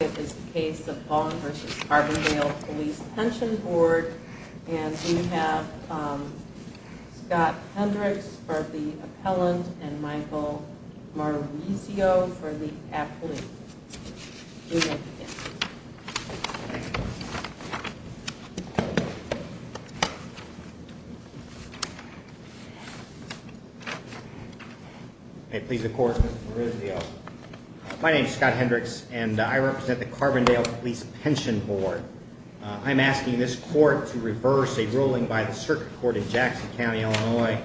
and we have Scott Hendricks for the appellant and Michael Maurizio for the appellant. Please accord with Maurizio. My name is Scott Hendricks and I represent the Carbondale Police Pension Board. I'm asking this court to reverse a ruling by the circuit court in Jackson County, Illinois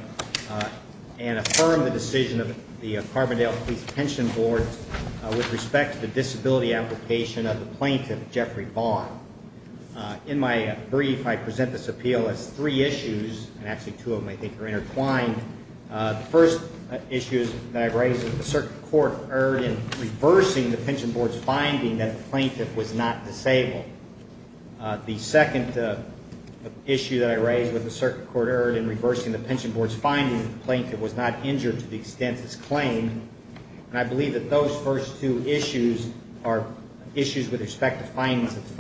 and affirm the decision of the Carbondale Police Pension Board with respect to the disability application of the plaintiff Jeffrey Vaughn. In my brief I present this appeal as three issues and actually two of them I think are intertwined. The first issue that I raised with the circuit court erred in reversing the pension board's finding that the plaintiff was not disabled. The second issue that I raised with the circuit court erred in reversing the pension board's finding that the plaintiff was not injured to the extent it's claimed and I believe that those first two issues are issues with respect to the findings of the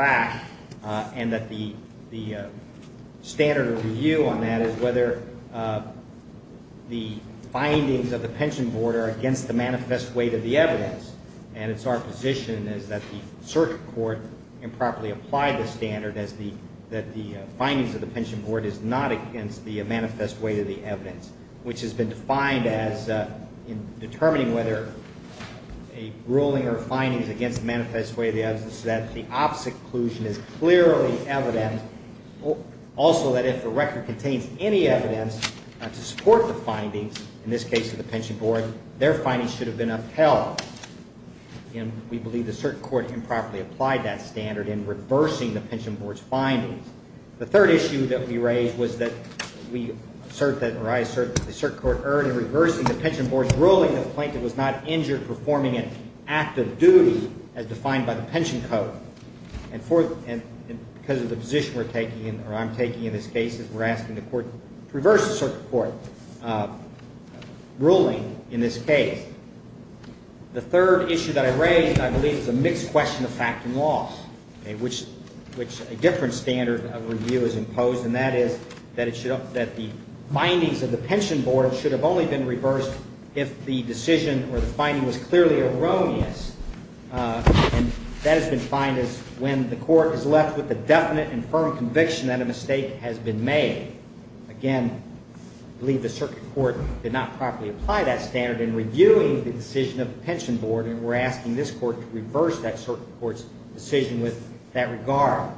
pension board are against the manifest weight of the evidence and it's our position is that the circuit court improperly applied the standard as the that the findings of the pension board is not against the manifest weight of the evidence which has been defined as in determining whether a ruling or findings against manifest weight of the evidence that the opposite inclusion is clearly evident also that if the record contains any evidence to support the findings in this case of the pension board their findings should have been upheld and we believe the circuit court improperly applied that standard in reversing the pension board's findings. The third issue that we raised was that we assert that or I assert that the circuit court erred in reversing the pension board's ruling that the plaintiff was not injured performing an act of duty as defined by the pension code and for and because of the reverse circuit court ruling in this case. The third issue that I raised I believe is a mixed question of fact and law which which a different standard of review is imposed and that is that it should that the findings of the pension board should have only been reversed if the decision or the finding was clearly erroneous and that has been defined as when the court is left with a definite and firm conviction that a mistake has been made. Again I believe the circuit court did not properly apply that standard in reviewing the decision of the pension board and we're asking this court to reverse that circuit court's decision with that regard.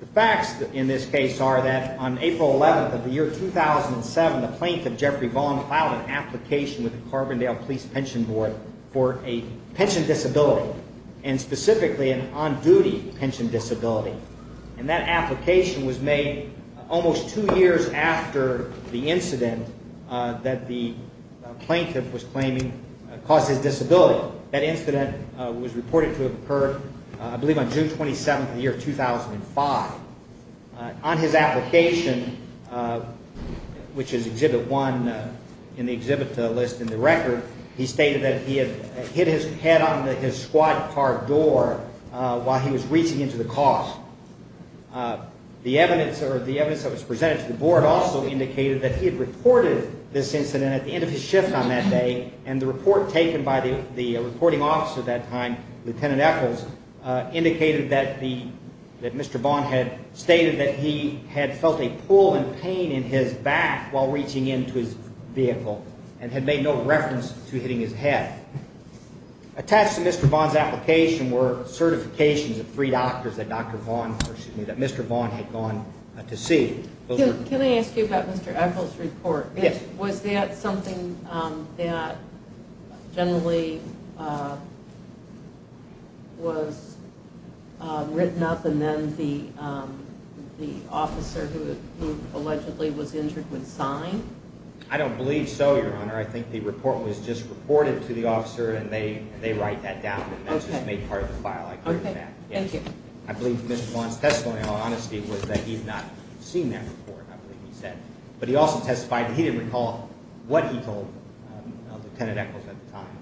The facts in this case are that on April 11th of the year 2007 the plaintiff Jeffrey Vaughn filed an application with the Carbondale Police Pension Board for a pension disability and specifically an on-duty pension disability and that application was made almost two years after the incident that the plaintiff was claiming caused his disability. That incident was reported to have occurred I believe on June 27th of the year 2005. On his application which is exhibit one in the exhibit list in the record he stated that he had hit his head on his squad car door while he was reaching into the car. The evidence or the evidence that was presented to the board also indicated that he had reported this incident at the end of his shift on that day and the report taken by the the reporting officer at that time, Lieutenant Eccles, indicated that the that Mr. Vaughn had stated that he had felt a pull and pain in his back while reaching into his vehicle and had made no reference to hitting his head. Attached to Mr. Vaughn's application were certifications of three doctors that Dr. Vaughn or excuse me that Mr. Vaughn had gone to see. Can I ask you about Mr. Eccles report? Yes. Was that something that generally was written up and then the the officer who allegedly was injured would sign? I don't believe so your honor. I think the report was just reported to the officer and they write that down and that's just made part of the file. I believe Mr. Vaughn's testimony in all honesty was that he's not seen that report I believe he said but he also testified that he didn't recall what he told Lieutenant Eccles at the time.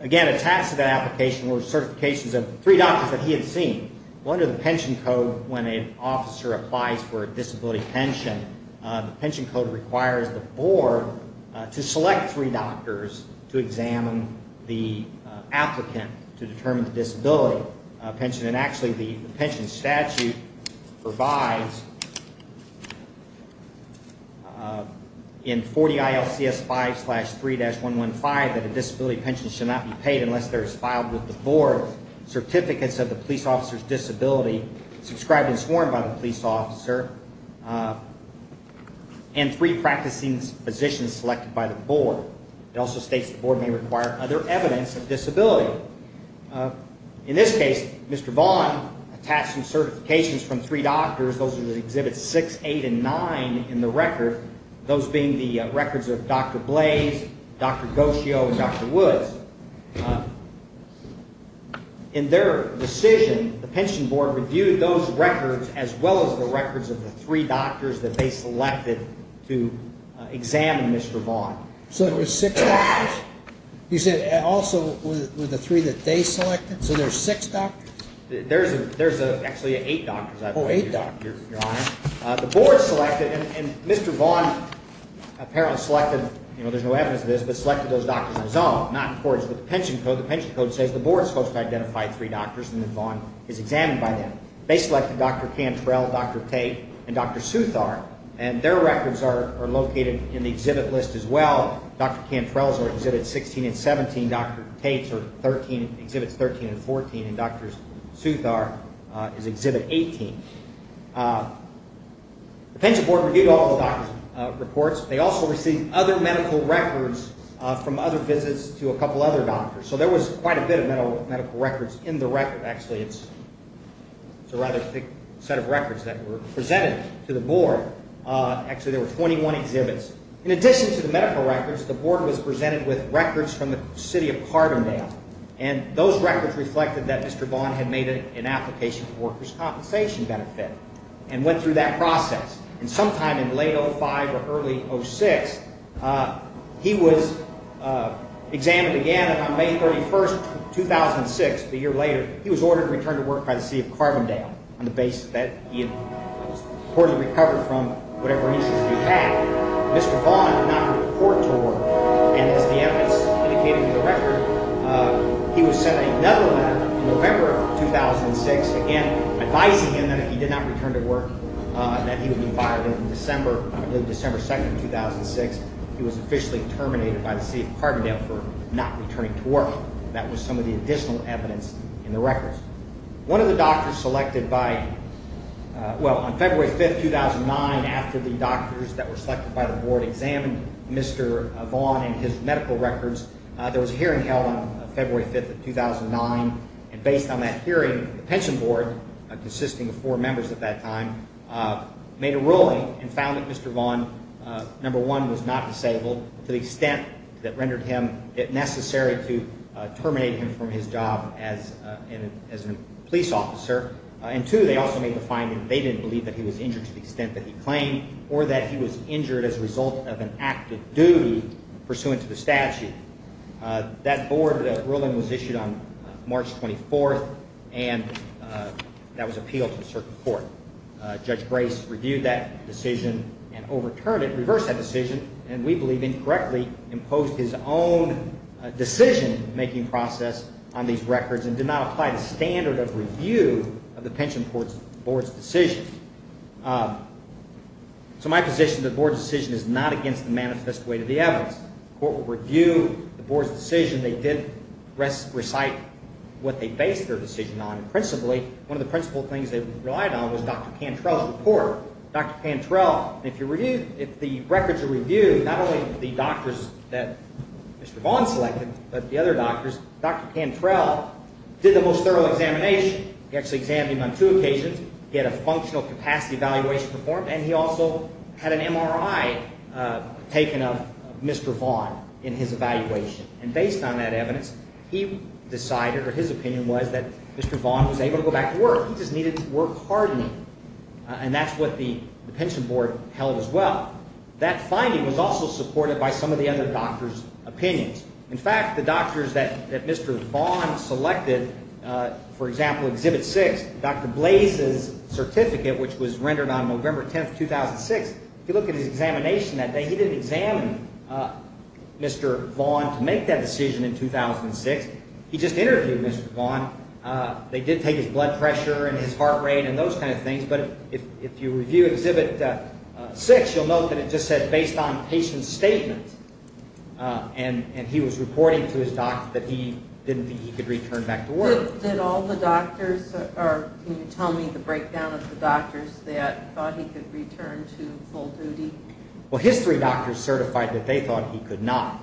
Again attached to that application were certifications of three doctors that he had seen. Well under the pension code when an officer applies for a disability pension the pension code requires the board to select three doctors to examine the applicant to determine the disability pension and actually the pension statute provides in 40 ILCS 5-3-115 that a disability pension should not be paid unless there is filed with the board certificates of the police officer's disability subscribed and sworn by the police officer and three practicing positions selected by the board. It also states the board may require other evidence of disability. In this case Mr. Vaughn attached some certifications from three doctors those are the exhibits 6, 8, and 9 in the record those being the records of Dr. Blais, Dr. Goscio, and Dr. Woods. In their decision the pension board reviewed those records as well as records of the three doctors that they selected to examine Mr. Vaughn. So it was six doctors? You said also with the three that they selected? So there's six doctors? There's actually eight doctors. Oh eight doctors. The board selected and Mr. Vaughn apparently selected you know there's no evidence of this but selected those doctors himself not in accordance with the pension code. The pension code says the board is supposed to identify three doctors and then Vaughn is examined by them. They selected Dr. Cantrell, Dr. Tate, and Dr. Southar and their records are located in the exhibit list as well. Dr. Cantrell's are exhibits 16 and 17, Dr. Tate's are 13 exhibits 13 and 14, and Dr. Southar is exhibit 18. The pension board reviewed all the doctor's reports. They also received other medical records from other visits to a couple other doctors. So there was quite a medical records in the record. Actually it's a rather thick set of records that were presented to the board. Actually there were 21 exhibits. In addition to the medical records the board was presented with records from the city of Carbondale and those records reflected that Mr. Vaughn had made an application for workers compensation benefit and went through that process and sometime in late 05 or early 06 he was examined again and on May 31st 2006 a year later he was ordered to return to work by the city of Carbondale on the basis that he had reportedly recovered from whatever he had. Mr. Vaughn did not report to work and as the evidence indicated in the record he was sent another letter in November of 2006 again advising him that if he did not return to December 2nd 2006 he was officially terminated by the city of Carbondale for not returning to work. That was some of the additional evidence in the records. One of the doctors selected by well on February 5th 2009 after the doctors that were selected by the board examined Mr. Vaughn and his medical records there was a hearing held on February 5th of 2009 and based on that hearing the pension board consisting of four members at that time made a ruling and found that Mr. Vaughn number one was not disabled to the extent that rendered him it necessary to terminate him from his job as a police officer and two they also made the finding they didn't believe that he was injured to the extent that he claimed or that he was injured as a result of an act of duty pursuant to the statute. That board ruling was issued on March 24th and that was appealed to a certain court. Judge Grace reviewed that decision and overturned it reversed that decision and we believe incorrectly imposed his own decision making process on these records and did not apply the standard of review of the pension court's board's decision. Um so my position the board's decision is not against the manifest weight of the evidence court will review the board's decision they did recite what they based their decision on principally one of the principal things they relied on was Dr. Cantrell's report. Dr. Cantrell if you review if the records are reviewed not only the doctors that Mr. Vaughn selected but the other doctors Dr. Cantrell did the most thorough examination he actually examined him on two capacity evaluation performed and he also had an MRI uh taken of Mr. Vaughn in his evaluation and based on that evidence he decided or his opinion was that Mr. Vaughn was able to go back to work he just needed work hardening and that's what the pension board held as well. That finding was also supported by some of the other doctors opinions in fact the doctors that that Mr. Vaughn selected uh for example exhibit six Dr. Blaze's certificate which was rendered on November 10th 2006 if you look at his examination that day he didn't examine uh Mr. Vaughn to make that decision in 2006 he just interviewed Mr. Vaughn uh they did take his blood pressure and his heart rate and those kind of things but if if you review exhibit six you'll note that it just said based on patient statement uh and and he was reporting to his doctor that he didn't think he could return back to work. Did all the doctors or can you tell me the breakdown of the doctors that thought he could return to full duty? Well his three doctors certified that they thought he could not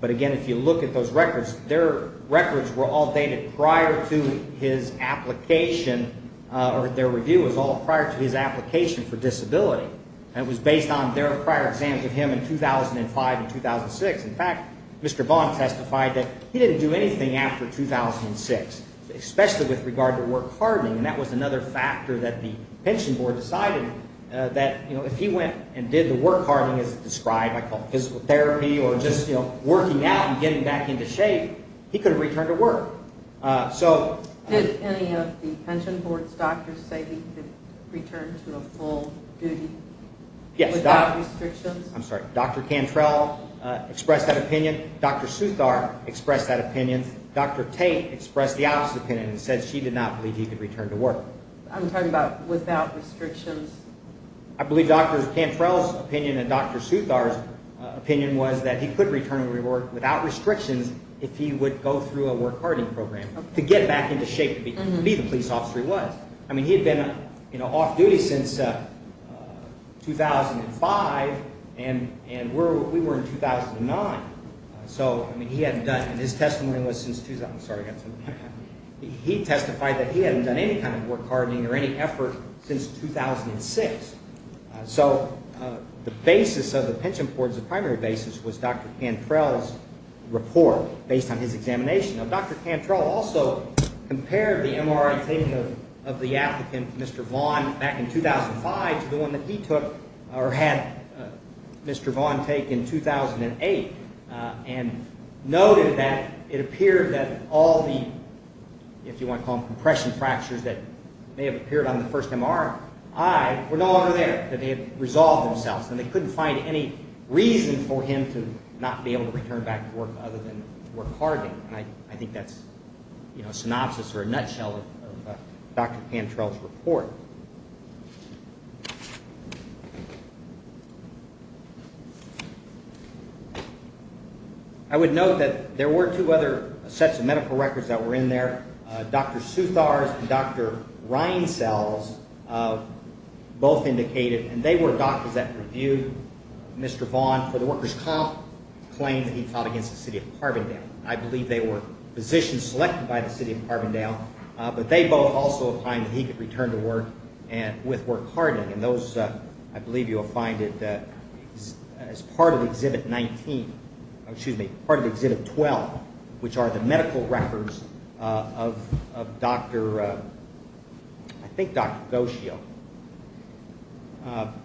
but again if you look at those records their records were all dated prior to his application uh or their review was all prior to his application for disability and it was based on their prior exams with him in 2005 and 2006 in fact Mr. Vaughn testified that he didn't do anything after 2006 especially with regard to work hardening and that was another factor that the pension board decided uh that you know if he went and did the work hardening as described by called physical therapy or just you know working out and getting back into shape he could have returned to work uh so. Did any of the pension board's doctors say he could return to a full duty? Yes. Without restrictions? I'm sorry Dr. Cantrell uh expressed that opinion, Dr. Suthar expressed that opinion, Dr. Tate expressed the opposite opinion and said she did not believe he could return to work. I'm talking about without restrictions. I believe Dr. Cantrell's opinion and Dr. Suthar's opinion was that he could return to work without restrictions if he would go through a work hardening program to get back into shape to be the police officer he was. I mean he had you know off duty since uh 2005 and and we're we were in 2009 so I mean he hadn't done and his testimony was since I'm sorry I got something he testified that he hadn't done any kind of work hardening or any effort since 2006 so uh the basis of the pension boards the primary basis was Dr. Cantrell's report based on his examination. Now Dr. Cantrell also compared the MRI taking of the applicant Mr. Vaughn back in 2005 to the one that he took or had Mr. Vaughn take in 2008 and noted that it appeared that all the if you want to call them compression fractures that may have appeared on the first MRI were no longer there that they had resolved themselves and they couldn't find any reason for him to not be able to return back to work other than work hardening I think that's you know synopsis or a nutshell of Dr. Cantrell's report. I would note that there were two other sets of medical records that were in there Dr. Southar's and Dr. Reincell's both indicated and they were doctors that reviewed Mr. Vaughn for the workers comp claim that he fought against the city of Carbondale. I believe they were positions selected by the city of Carbondale but they both also find that he could return to work and with work hardening and those I believe you'll find it as part of exhibit 19 excuse me part of exhibit 12 which are the medical records of of Dr. I think Dr. Gosheel.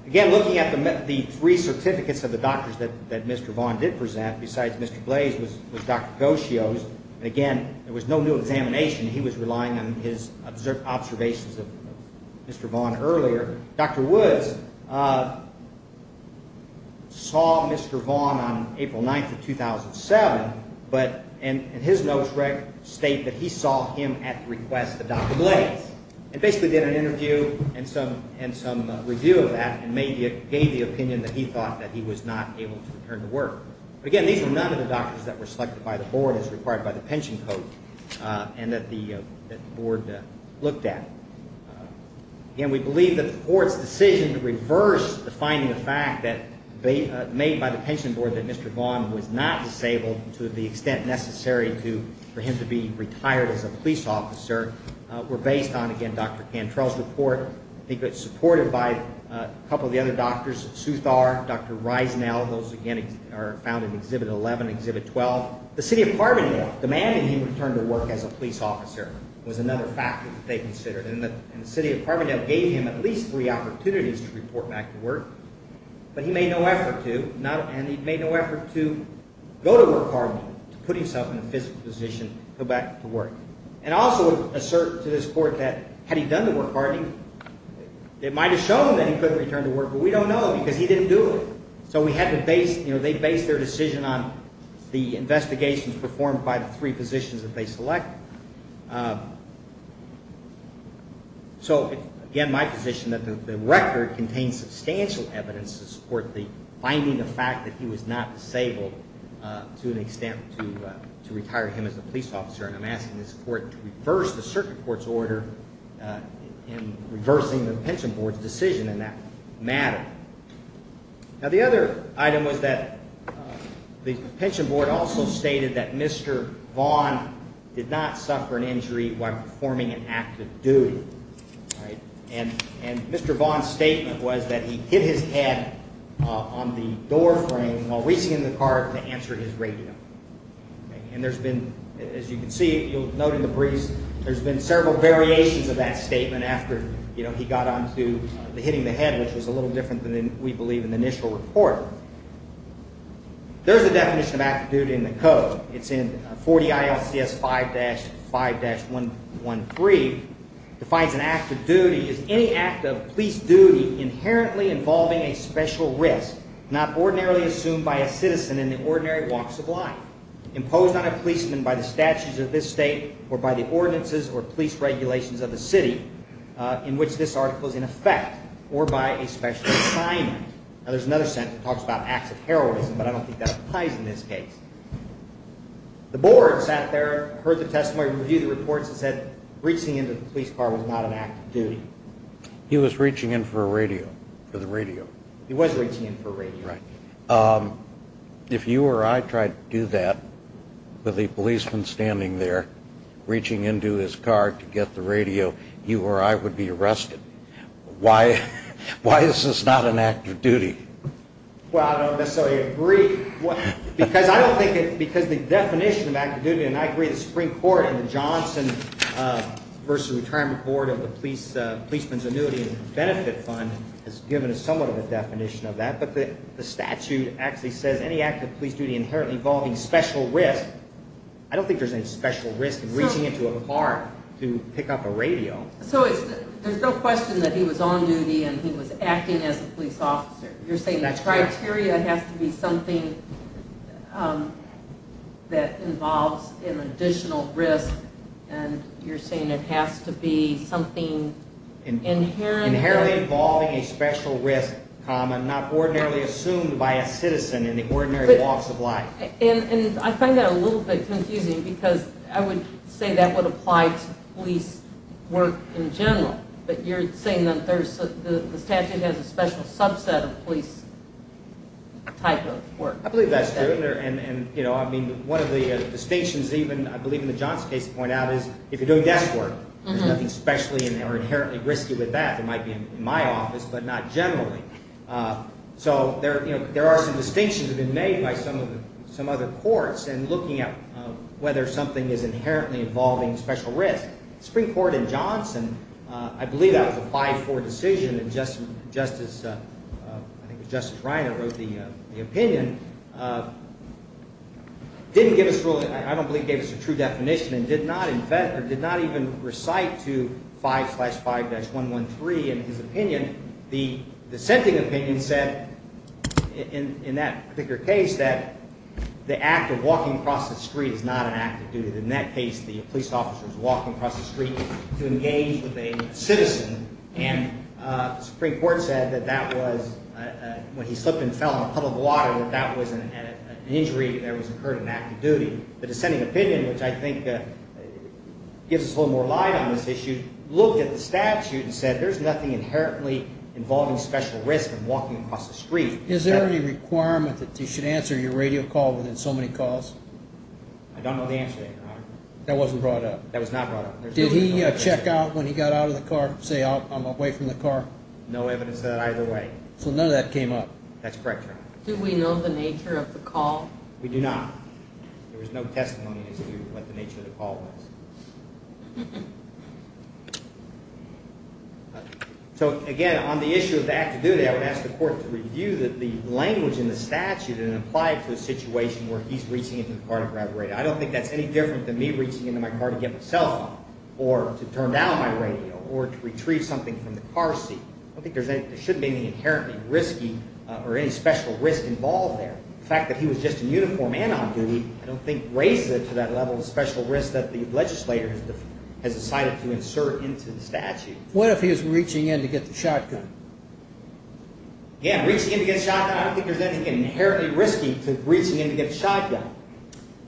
Again looking at the three certificates of the doctors that that Mr. Vaughn did present besides Mr. Blaise was Dr. Gosheel's and again there was no new examination he was relying on his observed observations of Mr. Vaughn earlier. Dr. Woods saw Mr. Vaughn on April 9th of 2007 but in his notes state that he saw him at the request of Dr. Blaise and basically did an interview and some and some review of that and gave the opinion that he thought that he was not able to return to work. But again these were none of the doctors that were selected by the board as required by the pension code and that the board looked at. Again we believe that the court's decision to reverse the finding of fact that they made by the pension board that Mr. Vaughn was not disabled to the extent necessary to for him to be retired as a police officer were based on again Dr. Cantrell's report. I think it's supported by a couple of the other doctors Sue Thar, Dr. Reisnell those again are found in Exhibit 11, Exhibit 12. The city of Carbondale demanding he returned to work as a police officer was another factor that they considered and the city of Carbondale gave him at least three opportunities to report back to work but he made no effort to not and he made no effort to go to work Carbondale to put himself in a physical position to go back to work and also assert to this court that had he done the work hard it might have shown that he couldn't return to work but we don't know because he didn't do it. So we had to base you know they based their decision on the investigations performed by the three positions that they selected. So again my position that the record contains substantial evidence to support the finding the fact that he was not disabled to an extent to retire him as a police officer and I'm asking this court to reverse the circuit court's order in reversing the pension board's decision in that matter. Now the other item was that the pension board also stated that Mr. Vaughn did not suffer an injury while performing an act of duty right and and Mr. Vaughn's statement was that he hit his head on the door frame while reaching in the car to answer his radio and there's been as you can note in the briefs there's been several variations of that statement after you know he got on to hitting the head which was a little different than we believe in the initial report. There's a definition of active duty in the code it's in 40 ILCS 5-5-113 defines an act of duty is any act of police duty inherently involving a special risk not ordinarily assumed by a citizen in the ordinary walks of life imposed on a policeman by the statutes of this state or by the ordinances or police regulations of the city uh in which this article is in effect or by a special assignment. Now there's another sentence that talks about acts of heroism but I don't think that applies in this case. The board sat there heard the testimony review the reports and said reaching into the police car was not an act of duty. He was reaching in for a radio for the radio he was reaching in for a radio. Right um if you or I tried to do that with a policeman standing there reaching into his car to get the radio you or I would be arrested. Why why is this not an act of duty? Well I don't necessarily agree what because I don't think it because the definition of active duty and I agree the Supreme Court and the Johnson uh versus Retirement Board of the Policeman's Annuity and Benefit Fund has given us somewhat of a definition of that but the statute actually says any act of police duty inherently involving special risk. I don't think there's any special risk in reaching into a car to pick up a radio. So it's there's no question that he was on duty and he was acting as a police officer. You're saying that criteria has to be something um that involves an additional risk and you're saying it has to be something inherent. Inherently involving a special risk common not ordinarily assumed by a citizen in the ordinary walks of life. And and I find that a little bit confusing because I would say that would apply to police work in general but you're saying that there's the statute has a special subset of police type of work. I believe that's true and and you know I mean one of the distinctions even I believe in the Johnson case point out is if you're doing desk work there's nothing especially in there inherently risky with that. It might be in my office but not generally. So there you know there are some distinctions have been made by some of the some other courts and looking at whether something is inherently involving special risk. Supreme Court in Johnson I believe that was a 5-4 decision and just just as I think Justice Reiner wrote the opinion didn't give us really I don't believe gave us a true definition and did not in fact or did not even recite to 5-5-113 in his opinion. The dissenting opinion said in in that particular case that the act of walking across the street is not an act of duty. In that case the police officer is walking across the street to engage with a citizen and the Supreme Court said that that was when he slipped and fell in a puddle of water that that wasn't an injury there was more light on this issue looked at the statute and said there's nothing inherently involving special risk and walking across the street. Is there any requirement that you should answer your radio call within so many calls? I don't know the answer. That wasn't brought up? That was not brought up. Did he check out when he got out of the car say I'm away from the car? No evidence of that either way. So none of that came up? That's correct. Do we know the nature of the call? We do not. There was no testimony as to what the nature of the call was. So again on the issue of the act of duty I would ask the court to review the language in the statute and apply it to a situation where he's reaching into the car to grab a radio. I don't think that's any different than me reaching into my car to get my cell phone or to turn down my radio or to retrieve something from the car seat. I don't think there's any there shouldn't be any risky or any special risk involved there. The fact that he was just in uniform and on duty I don't think raises it to that level of special risk that the legislator has decided to insert into the statute. What if he was reaching in to get the shotgun? Yeah reaching in to get a shotgun I don't think there's anything inherently risky to reaching in to get a shotgun.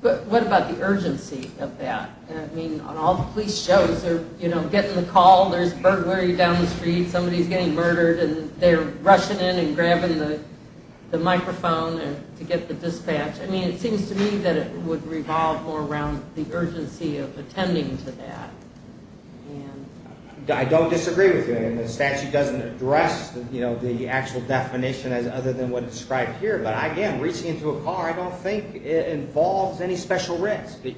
But what about the urgency of that? I mean on all the police shows they're you know getting the call there's down the street somebody's getting murdered and they're rushing in and grabbing the microphone to get the dispatch. I mean it seems to me that it would revolve more around the urgency of attending to that. I don't disagree with you and the statute doesn't address you know the actual definition as other than what is described here. But again reaching into a car I don't think it involves any special risk. You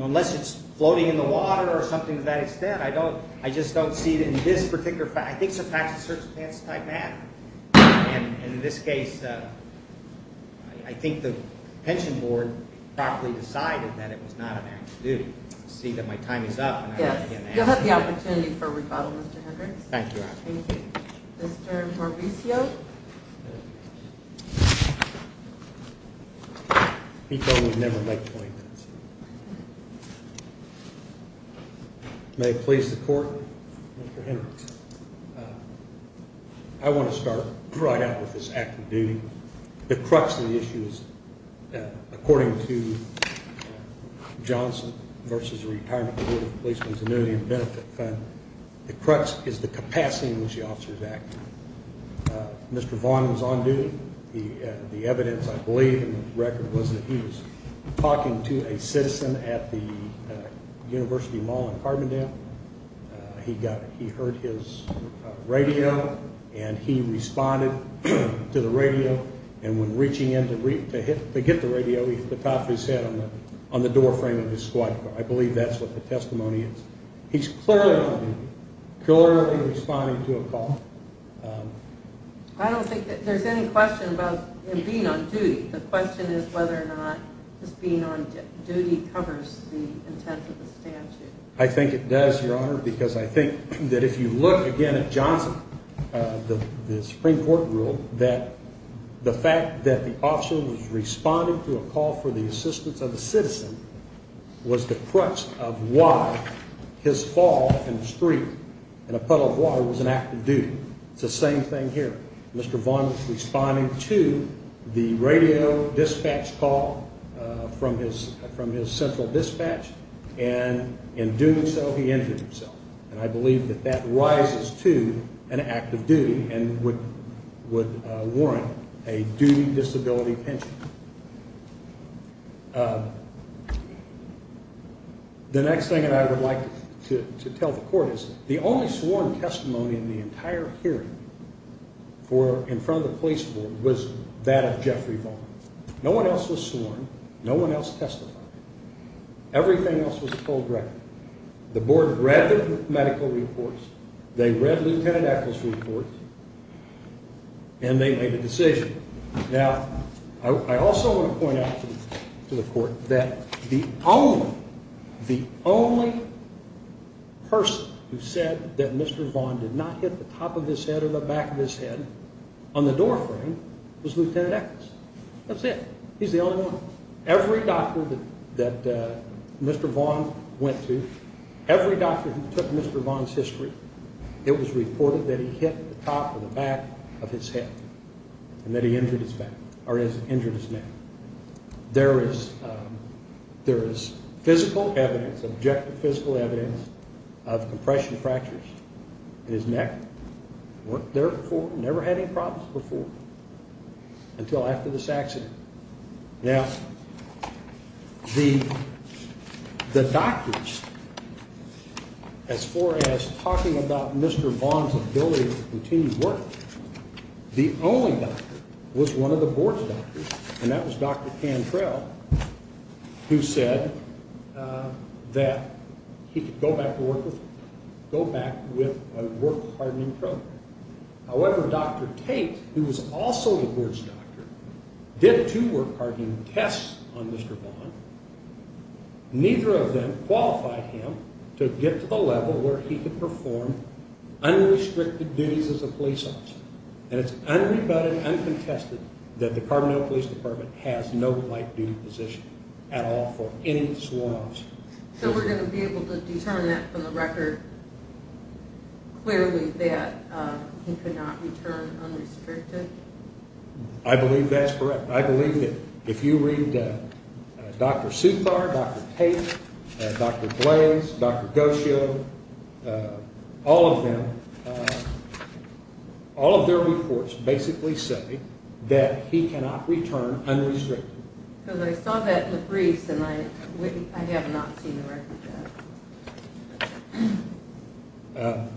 know unless it's floating in the water or something to that extent I just don't see it in this particular fact. I think some facts and circumstances type math and in this case I think the pension board properly decided that it was not an act to do. See that my time is up. Yes you'll have the opportunity for rebuttal Mr. Hendricks. Thank you. Mr. Hendricks. I want to start right out with this act of duty. The crux of the issue is according to Johnson versus the Retirement Board of Policemen's Annuity and Benefit Fund the crux is the capacity in which the officer is active. Mr. Vaughn was on duty. The evidence I believe in the record was that he was talking to a citizen at the University Mall in Carbondale he got he heard his radio and he responded to the radio and when reaching in to hit the radio he hit the top of his head on the on the doorframe of his squad car. I believe that's what the testimony is. He's clearly clearly responding to a call. I don't think that there's any question about him being on duty. The question is whether or not this being on duty covers the intent of I think it does your honor because I think that if you look again at Johnson uh the the Supreme Court rule that the fact that the officer was responding to a call for the assistance of the citizen was the crux of why his fall in the street in a puddle of water was an act of duty. It's the same thing here. Mr. Vaughn was responding to the radio dispatch call uh from his from his central dispatch and in doing so he injured himself and I believe that that rises to an act of duty and would would warrant a duty disability pension. The next thing that I would like to to tell the court is the only sworn testimony in the entire hearing for in front of the police board was that of Jeffrey Vaughn. No one else was sworn, no one else testified, everything else was told directly. The board read the medical reports, they read Lieutenant Echols reports and they made a decision. Now I also want to point out to the court that the only the only person who said that Mr. Vaughn did not hit the top of his Every doctor that that uh Mr. Vaughn went to, every doctor who took Mr. Vaughn's history, it was reported that he hit the top of the back of his head and that he injured his back or has injured his neck. There is um there is physical evidence, objective physical evidence of compression fractures in his neck. Weren't there before, never had any problems before until after this accident. Now the the doctors as far as talking about Mr. Vaughn's ability to continue work, the only doctor was one of the board's doctors and that was Dr. Cantrell who said that he could go back to work with go back with a work hardening program. However Dr. Tate who was also the board's doctor did two work hardening tests on Mr. Vaughn. Neither of them qualified him to get to the level where he could perform unrestricted duties as a police officer and it's unrebutted uncontested that the Carbondale Police Department has no light duty position at all for any swabs. So we're going to be able to determine that from the record clearly that he could not return unrestricted. I believe that's correct. I believe that if you read Dr. Supar, Dr. Tate, Dr. Blaise, Dr. Gosio, all of them, all of their reports basically say that he cannot return unrestricted. Because I saw that in the briefs and I have not seen the records yet.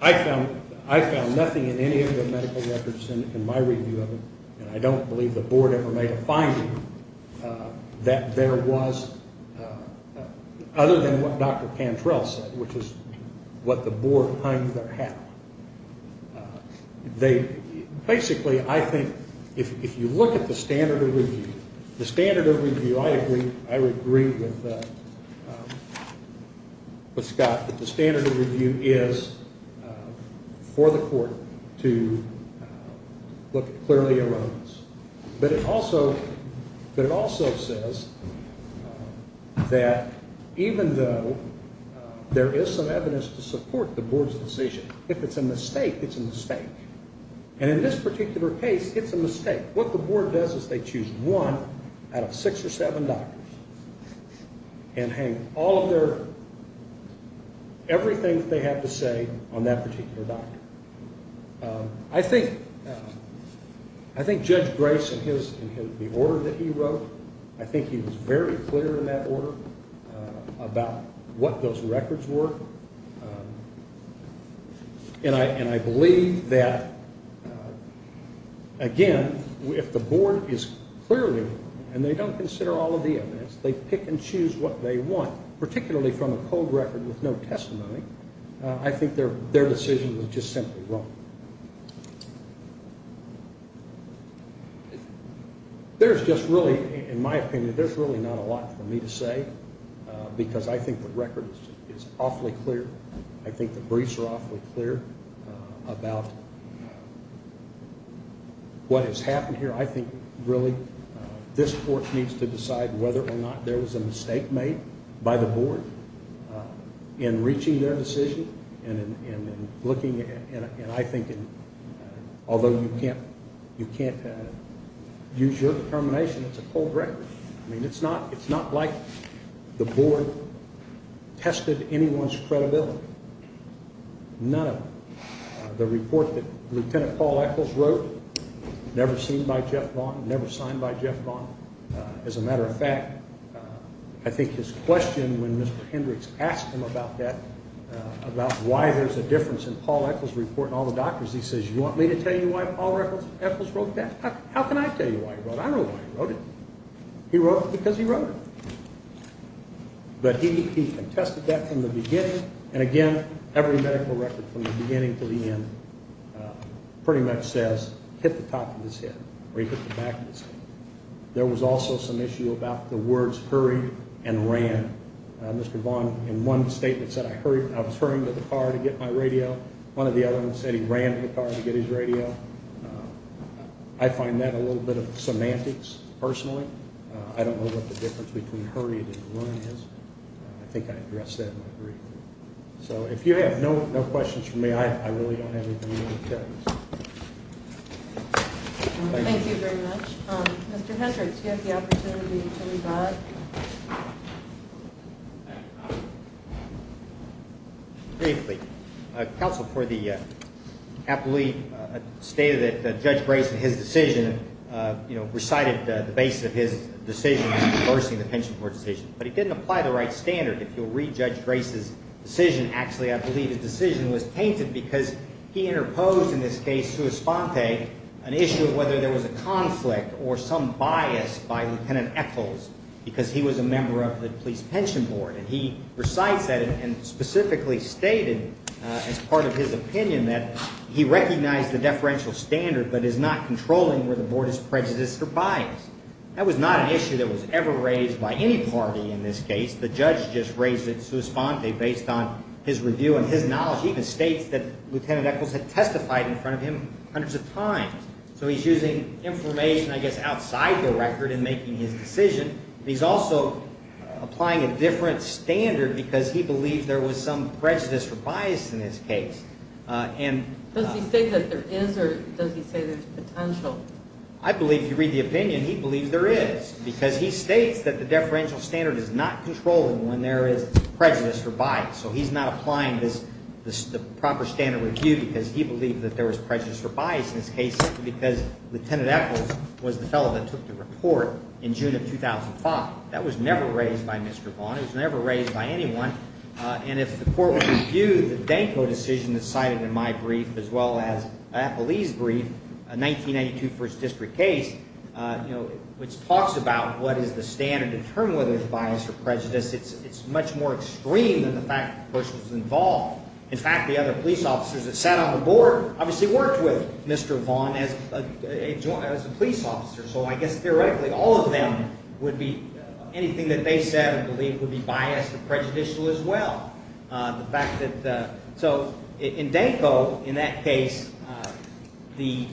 I found I found nothing in any of the medical records in my review of it and I don't believe the board ever made a finding that there was other than what Dr. Cantrell said which is what the board finds their hat on. They basically I think if you look at the standard of review, the standard of review I agree I would agree with Scott that the standard of review is for the court to look at clearly alone. But it also but it also says that even though there is some evidence to support the board's decision, if it's a mistake, it's a mistake. And in this particular case, it's a mistake. What the board does is they choose one out of six or seven doctors and hang all of their everything they have to say on that particular doctor. I think I think Judge Grace in his in the order that he wrote, I think he was very clear in that order about what those records were. And I and I believe that again if the board is clearly and they don't consider all of the evidence, they pick and choose what they want, particularly from a cold record with no testimony, I think their their decision was just simply wrong. There's just really in my opinion there's really not a lot for me to say because I think the record is awfully clear. I think the briefs are awfully clear about what has happened here. I think really this court needs to decide whether or not there was a mistake made by the board in reaching their decision and looking. And I think although you can't, you can't use your determination, it's a cold record. I mean, it's not. It's not like the board tested anyone's credibility. None of the report that Lieutenant Paul Eccles wrote never seen by Jeff Vaughn, never signed by Jeff Vaughn. As a matter of fact, I think his question when Mr. Hendricks asked him about that, about why there's a difference in Paul Eccles' report and all the doctors, he says you want me to tell you why Paul Eccles wrote that? How can I tell you why he wrote it? I don't know why he wrote it. He wrote it because he wrote it. But he contested that from the beginning and again every medical record from the beginning to the end pretty much says hit the top of his head or he hit the back of his head. There was also some issue about the words hurried and ran. Mr. Vaughn in one statement said I was hurrying to the car to get my radio. One of the other ones said he ran to the car to get his radio. I find that a little bit of semantics personally. I don't know what the difference between hurried and run is. I think I addressed that in my brief. So if you have no questions for me, I really don't have anything to tell you. Thank you very much. Mr. Hendricks, you have the opportunity to rebut. Briefly, counsel for the athlete stated that Judge Grace and his decision, you know, recited the base of his decision reversing the pension court decision. But he didn't apply the right standard. If you'll read Judge Grace's decision, actually I believe the decision was tainted because he interposed in this case sua sponte, an issue of whether there was a conflict or some bias by Lieutenant Ethels because he was a member of the police pension board. And he recites that and specifically stated as part of his opinion that he recognized the deferential standard but is not controlling where the board is prejudiced or biased. That was not an issue that was ever raised by any party in this case. The judge just raised it sua sponte based on his review and his opinion that Lieutenant Ethels had testified in front of him hundreds of times. So he's using information I guess outside the record in making his decision. He's also applying a different standard because he believed there was some prejudice or bias in his case. Does he say that there is or does he say there's potential? I believe if you read the opinion, he believes there is because he states that the deferential standard is not controlling when there is a proper standard review because he believed that there was prejudice or bias in his case because Lieutenant Ethels was the fellow that took the report in June of 2005. That was never raised by Mr. Vaughn. It was never raised by anyone. And if the court would review the Danko decision that's cited in my brief as well as Ethel Lee's brief, a 1992 first district case, you know, which talks about what is the standard to determine whether there's bias or prejudice, it's much more extreme than the fact that Bush was involved. In fact, the other police officers that sat on the board obviously worked with Mr. Vaughn as a police officer. So I guess theoretically all of them would be, anything that they said and believed would be biased or prejudicial as well. The fact that, so in Danko, in that case, the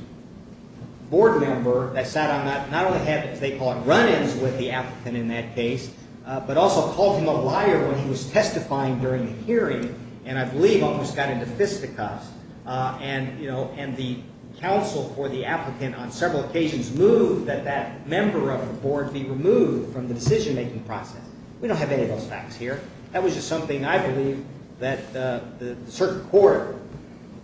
board member that sat on that not only had what the applicant in that case, but also called him a liar when he was testifying during the hearing, and I believe almost got into fisticuffs. And, you know, and the counsel for the applicant on several occasions moved that that member of the board be removed from the decision-making process. We don't have any of those facts here. That was just something I believe that the certain court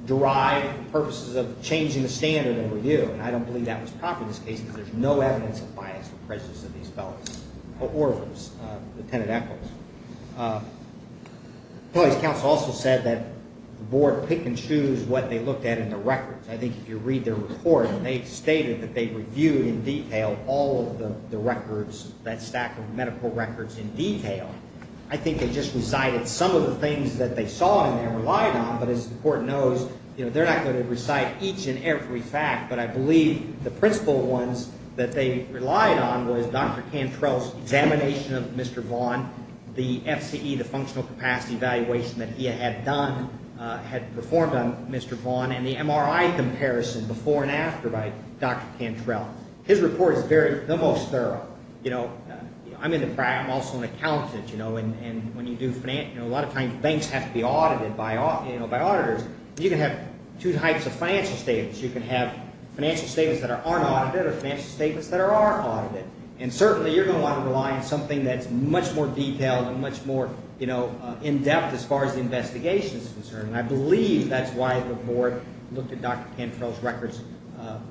derived for purposes of changing the standard of review. And I don't believe that was proper in this case because there's no evidence of bias or prejudice of these fellows, or of Lieutenant Echols. The police counsel also said that the board pick and choose what they looked at in the records. I think if you read their report, they stated that they reviewed in detail all of the records, that stack of medical records in detail. I think they just recited some of the things that they saw and they relied on, but as the court knows, you know, they're not going to recite each and I believe the principal ones that they relied on was Dr. Cantrell's examination of Mr. Vaughn, the FCE, the functional capacity evaluation that he had done, had performed on Mr. Vaughn, and the MRI comparison before and after by Dr. Cantrell. His report is very, the most thorough. You know, I'm also an accountant, you know, and when you do finance, you know, a lot of times banks have to be audited by, you know, by auditors. You can have two types of financial statements. You can have financial statements that aren't audited or financial statements that are audited, and certainly you're going to want to rely on something that's much more detailed and much more, you know, in-depth as far as the investigation is concerned, and I believe that's why the board looked at Dr. Cantrell's records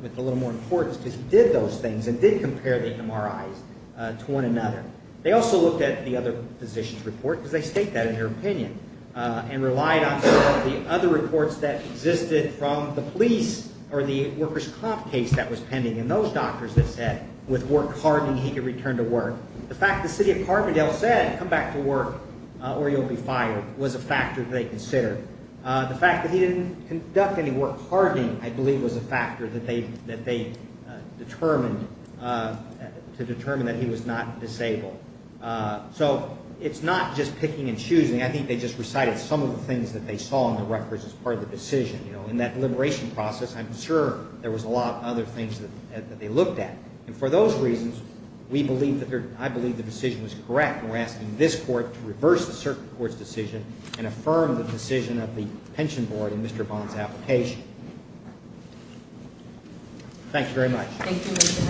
with a little more importance because he did those things and did compare the MRIs to one another. They also looked at the other physician's report because they state that in their opinion and relied on some of the other reports that existed from the police or the workers' comp case that was pending, and those doctors that said with work hardening he could return to work. The fact the city of Carbondale said, come back to work or you'll be fired was a factor they considered. The fact that he didn't conduct any work hardening, I believe, was a factor that they determined to determine that he was not disabled. So it's not just picking and choosing. I think they just recited some of the things that they saw in the records as part of the decision. You know, in that deliberation process, I'm sure there was a lot of other things that they looked at, and for those reasons, I believe the decision was correct. We're asking this court to reverse the circuit court's decision and affirm the decision of the pension board in Mr. Bond's application. Thank you very much.